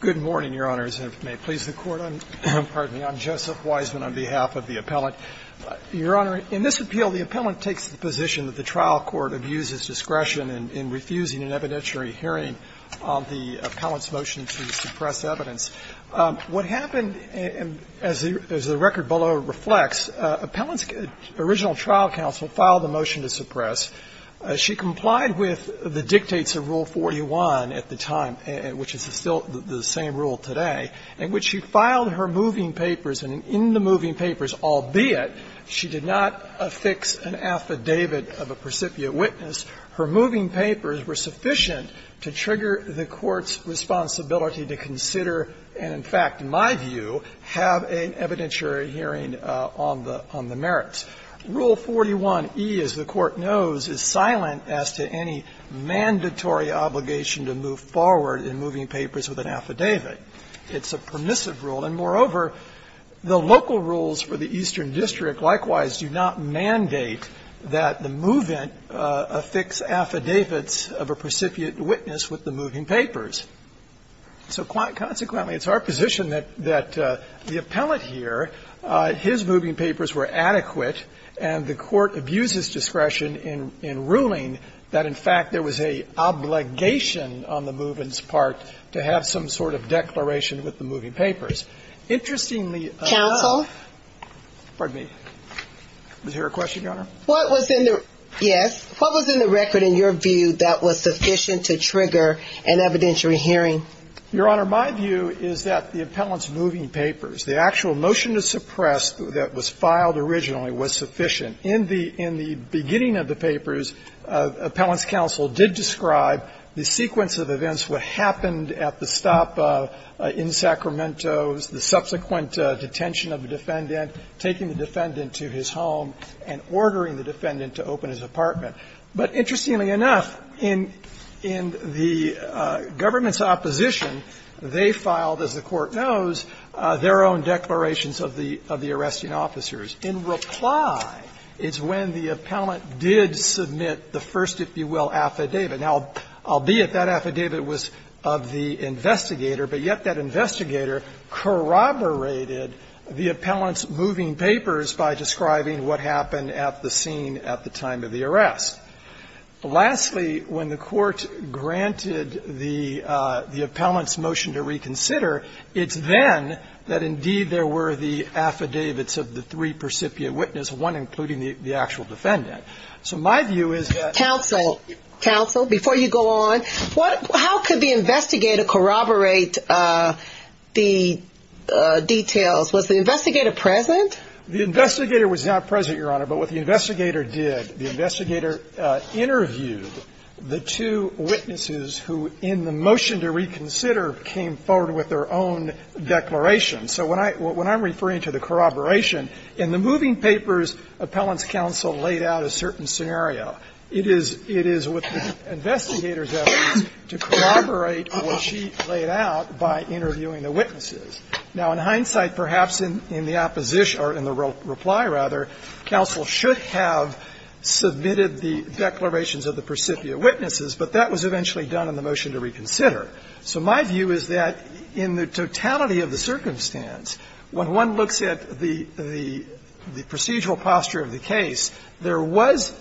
Good morning, Your Honors, and if it may please the Court, I'm Joseph Weisman on behalf of the appellant. Your Honor, in this appeal, the appellant takes the position that the trial court abuses discretion in refusing an evidentiary hearing on the appellant's motion to suppress evidence. What happened, as the record below reflects, the appellant's original trial counsel filed a motion to suppress. She complied with the dictates of Rule 41 at the time, which is still the same rule today, in which she filed her moving papers. And in the moving papers, albeit she did not affix an affidavit of a precipient witness, her moving papers were sufficient to trigger the Court's responsibility to consider and, in fact, in my view, have an evidentiary hearing on the merits. Rule 41e, as the Court knows, is silent as to any mandatory obligation to move forward in moving papers with an affidavit. It's a permissive rule. And moreover, the local rules for the Eastern District likewise do not mandate that the movant affix affidavits of a precipient witness with the moving papers. So consequently, it's our position that the appellant here, his moving papers were inadequate, and the Court abuses discretion in ruling that, in fact, there was a obligation on the movant's part to have some sort of declaration with the moving papers. Interestingly, I'm not going to go into the details of the moving papers, but I'm going to say that the appellant's moving papers were adequate, and the Court abuses In the beginning of the papers, appellant's counsel did describe the sequence of events, what happened at the stop in Sacramento's, the subsequent detention of the defendant, taking the defendant to his home, and ordering the defendant to open his apartment. But interestingly enough, in the government's opposition, they filed, as the Court knows, their own declarations of the arresting officers. In reply, it's when the appellant did submit the first, if you will, affidavit. Now, albeit that affidavit was of the investigator, but yet that investigator corroborated the appellant's moving papers by describing what happened at the scene at the time of the arrest. Lastly, when the Court granted the appellant's motion to reconsider, it's then that indeed there were the affidavits of the three percipient witnesses, one including the actual defendant. So my view is that- Counsel, counsel, before you go on, how could the investigator corroborate the details? Was the investigator present? The investigator was not present, Your Honor, but what the investigator did, the investigator interviewed the two witnesses who, in the motion to reconsider, came forward with their own declarations. So when I'm referring to the corroboration, in the moving papers, appellant's counsel laid out a certain scenario. It is with the investigator's evidence to corroborate what she laid out by interviewing the witnesses. Now, in hindsight, perhaps in the opposition, or in the reply, rather, counsel should have submitted the declarations of the percipient witnesses, but that was eventually done in the motion to reconsider. So my view is that in the totality of the circumstance, when one looks at the procedural posture of the case, there was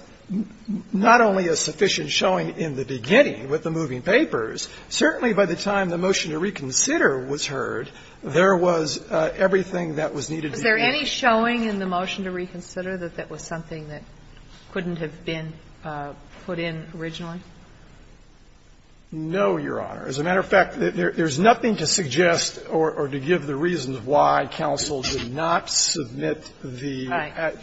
not only a sufficient showing in the beginning with the moving papers, certainly by the time the motion to reconsider was heard, there was everything that was needed to be- Is there any showing in the motion to reconsider that that was something that couldn't have been put in originally? No, Your Honor. As a matter of fact, there's nothing to suggest or to give the reasons why counsel did not submit the- Right.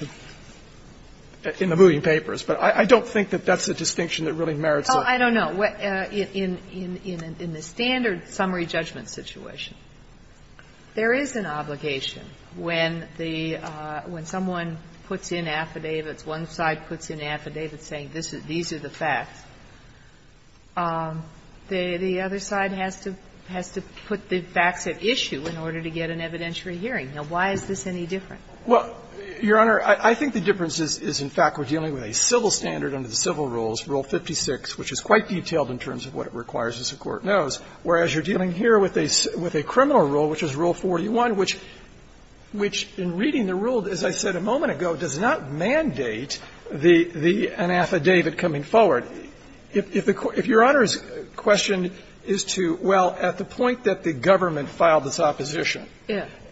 In the moving papers, but I don't think that that's a distinction that really merits a- Well, I don't know. In the standard summary judgment situation, there is an obligation when the – when someone puts in affidavits, one side puts in an affidavit saying this is – these are the facts. The other side has to put the facts at issue in order to get an evidentiary hearing. Now, why is this any different? Well, Your Honor, I think the difference is, in fact, we're dealing with a civil standard under the civil rules, Rule 56, which is quite detailed in terms of what it requires, as the Court knows, whereas you're dealing here with a criminal rule, which is Rule 41, which, in reading the rule, as I said a moment ago, does not mandate the – an affidavit coming forward. If the – if Your Honor's question is to, well, at the point that the government filed this opposition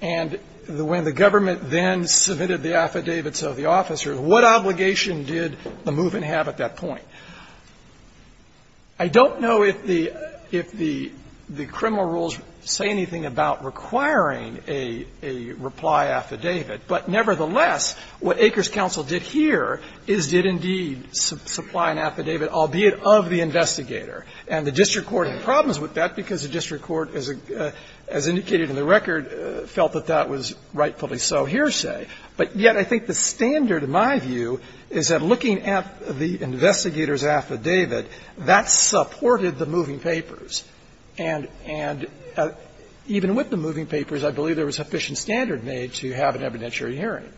and when the government then submitted the affidavits of the officers, what obligation did the movement have at that point? I don't know if the – if the criminal rules say anything about requiring a reply affidavit, but nevertheless, what Acres Counsel did here is did indeed supply an affidavit, albeit of the investigator. And the district court had problems with that because the district court, as indicated in the record, felt that that was rightfully so hearsay. But yet I think the standard, in my view, is that looking at the investigator's affidavit, that supported the moving papers. And even with the moving papers, I believe there was sufficient standard made to have an evidentiary hearing.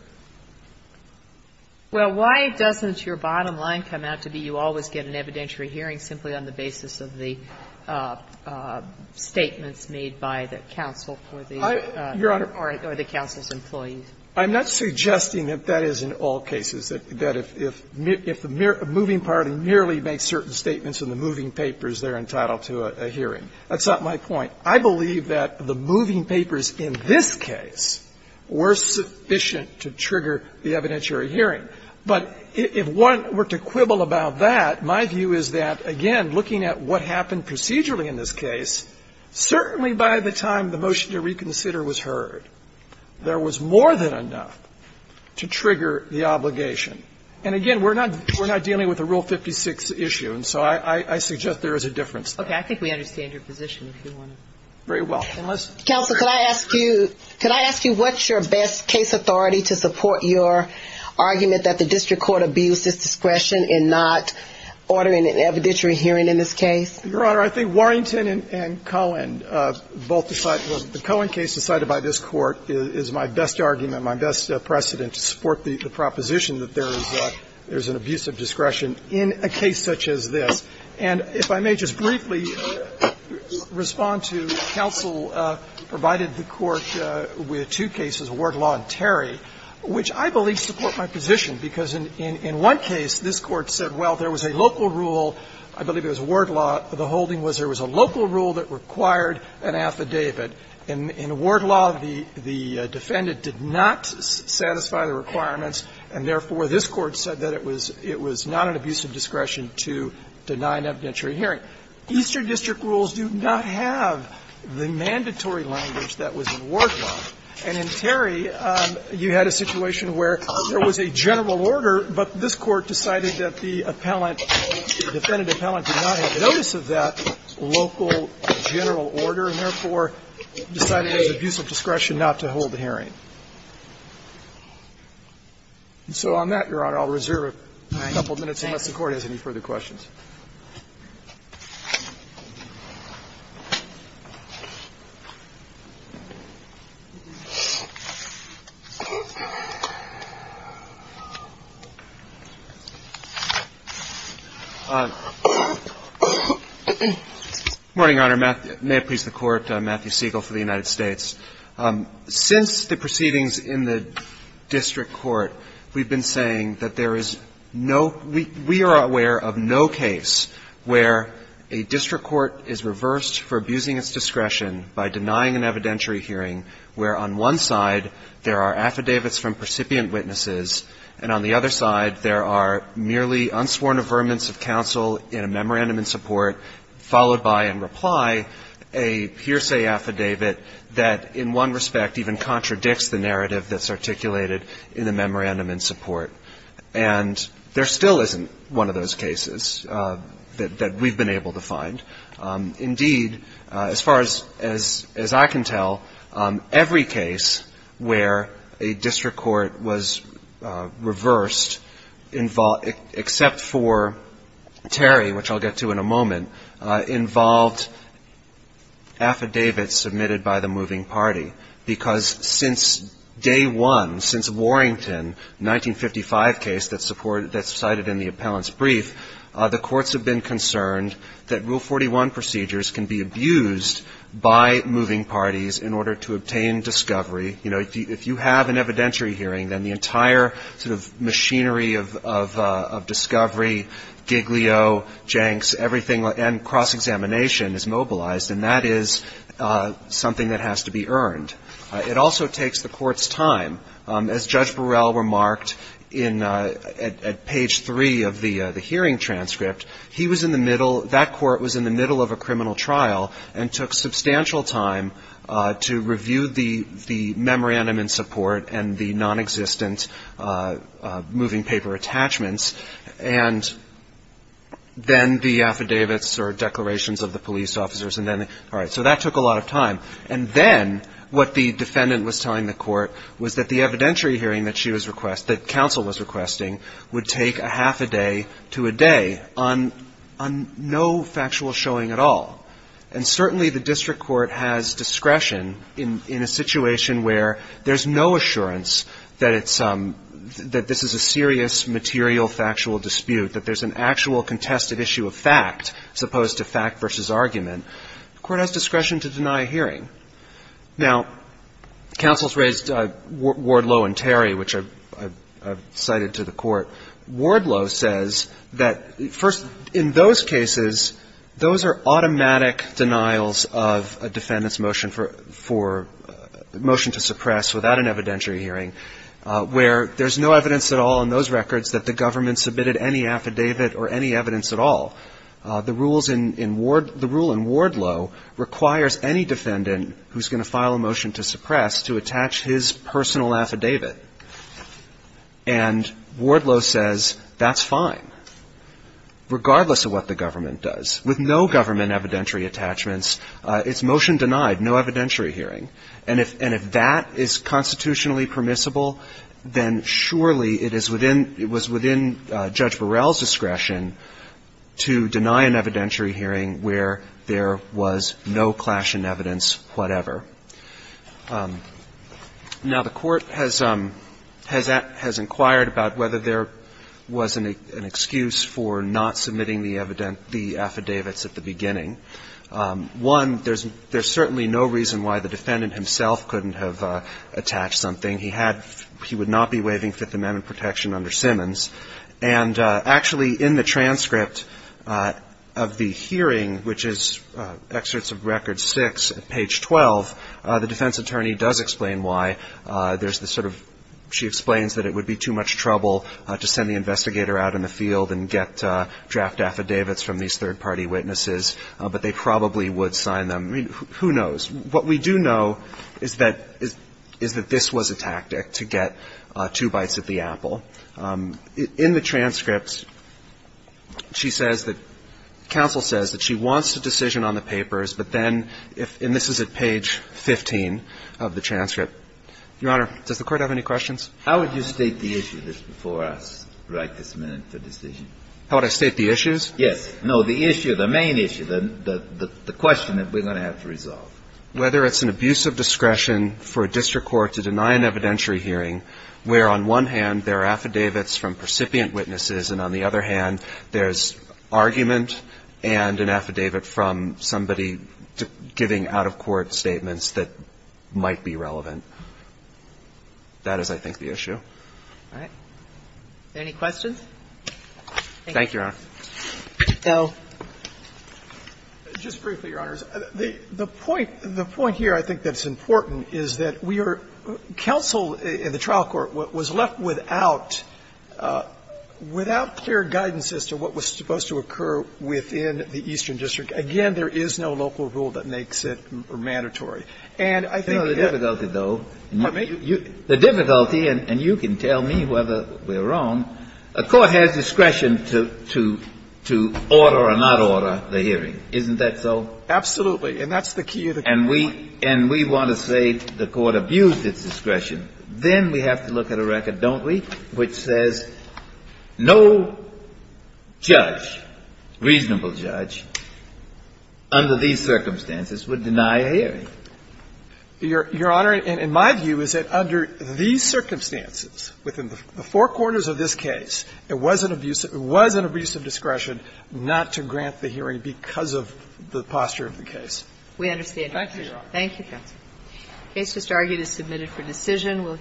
Well, why doesn't your bottom line come out to be you always get an evidentiary hearing simply on the basis of the statements made by the counsel for the or the counsel's employees? I'm not suggesting that that is in all cases, that if the moving party merely makes certain statements in the moving papers, they're entitled to a hearing. That's not my point. I believe that the moving papers in this case were sufficient to trigger the evidentiary hearing. But if one were to quibble about that, my view is that, again, looking at what happened procedurally in this case, certainly by the time the motion to reconsider was heard, there was more than enough to trigger the obligation. And, again, we're not dealing with a Rule 56 issue, and so I suggest there is a difference there. Okay. I think we understand your position, if you want to. Very well. Counsel, could I ask you what's your best case authority to support your argument that the district court abused its discretion in not ordering an evidentiary hearing in this case? Your Honor, I think Warrington and Cohen both decided the Cohen case decided by this Court is my best argument, my best precedent to support the proposition that there is an abuse of discretion in a case such as this. And if I may just briefly respond to counsel provided the Court with two cases, Wardlaw and Terry, which I believe support my position, because in one case, this was a local rule, I believe it was Wardlaw, the holding was there was a local rule that required an affidavit. In Wardlaw, the defendant did not satisfy the requirements, and therefore this Court said that it was not an abuse of discretion to deny an evidentiary hearing. Eastern district rules do not have the mandatory language that was in Wardlaw. And in Terry, you had a situation where there was a general order, but this Court decided that the appellant, the defendant appellant, did not have notice of that local general order and therefore decided it was an abuse of discretion not to hold the hearing. And so on that, Your Honor, I'll reserve a couple of minutes unless the Court has any further questions. Good morning, Your Honor. May it please the Court. Matthew Siegel for the United States. Since the proceedings in the district court, we've been saying that there is no – we are aware of no case where a district court is reversed for abusing its discretion by denying an evidentiary hearing where on one side there are affidavits from percipient witnesses and on the other side there are merely unsworn affirmance of counsel in a memorandum in support followed by in reply a hearsay affidavit that in one respect even contradicts the narrative that's articulated in the memorandum in support. And there still isn't one of those cases that we've been able to find. Indeed, as far as I can tell, every case where a district court was reversed except for Terry, which I'll get to in a moment, involved affidavits submitted by the moving party, because since day one, since Warrington, the 1955 case that's cited in the appellant's brief, the courts have been concerned that Rule 41 procedures can be abused by moving parties in order to obtain discovery. You know, if you have an evidentiary hearing, then the entire sort of machinery of discovery, giglio, janks, everything, and cross-examination is mobilized, and that is something that has to be earned. It also takes the court's time. As Judge Burrell remarked at page three of the hearing transcript, he was in the middle, that court was in the middle of a criminal trial and took substantial time to review the memorandum in support and the nonexistent moving party attachments, and then the affidavits or declarations of the police officers, and then, all right, so that took a lot of time. And then what the defendant was telling the court was that the evidentiary hearing that she was requesting, that counsel was requesting, would take a half a day to a day on no factual showing at all. And certainly the district court has discretion in a situation where there's no assurance that it's, that this is a serious, material, factual dispute, that there's an actual contested issue of fact, as opposed to fact versus argument. The court has discretion to deny a hearing. Now, counsel's raised Wardlow and Terry, which I've cited to the court. Wardlow says that, first, in those cases, those are automatic denials of a defendant's motion for, for, motion to suppress a hearing. And that's a motion to suppress without an evidentiary hearing, where there's no evidence at all in those records that the government submitted any affidavit or any evidence at all. The rules in, in Ward, the rule in Wardlow requires any defendant who's going to file a motion to suppress to attach his personal affidavit. And Wardlow says that's fine, regardless of what the government does. With no government evidentiary attachments, it's motion denied, no evidentiary hearing. And if, and if that is constitutionally permissible, then surely it is within, it was within Judge Burrell's discretion to deny an evidentiary hearing where there was no clash in evidence whatever. Now, the Court has, has inquired about whether there was an, an excuse for not submitting the evident, the affidavits at the beginning. One, there's, there's certainly no reason why the defendant himself couldn't have attached something. He had, he would not be waiving Fifth Amendment protection under Simmons. And actually, in the transcript of the hearing, which is Excerpts of Record 6 at page 12, the defense attorney does explain why there's the sort of, she explains that it would be too much trouble to send the investigator out in the field and get draft affidavits from these third-party witnesses, but they probably would sign them. I mean, who knows? What we do know is that, is that this was a tactic to get two bites at the apple. In the transcripts, she says that, counsel says that she wants a decision on the papers, but then if, and this is at page 15 of the transcript. Your Honor, does the Court have any questions? How would you state the issue that's before us right this minute for decision? How would I state the issues? Yes. No, the issue, the main issue, the, the, the question that we're going to have to resolve. Whether it's an abuse of discretion for a district court to deny an evidentiary hearing where on one hand there are affidavits from percipient witnesses and on the other hand there's argument and an affidavit from somebody giving out-of-court statements that might be relevant. That is, I think, the issue. All right. Any questions? Thank you, Your Honor. El. Just briefly, Your Honors. The, the point, the point here I think that's important is that we are, counsel in the trial court was left without, without clear guidance as to what was supposed to occur within the Eastern District. Again, there is no local rule that makes it mandatory. And I think that the difficulty, though, you, the difficulty, and you can tell me whether we're wrong, a court has discretion to, to, to order or not order the hearing. Isn't that so? Absolutely. And that's the key of the case. And we, and we want to say the Court abused its discretion. Then we have to look at a record, don't we, which says no judge, reasonable judge, under these circumstances would deny a hearing. Your, Your Honor, in, in my view, is that under these circumstances, within the four quarters of this case, it was an abuse, it was an abuse of discretion not to grant the hearing because of the posture of the case. We understand. Thank you, Your Honor. Thank you, counsel. The case just argued is submitted for decision.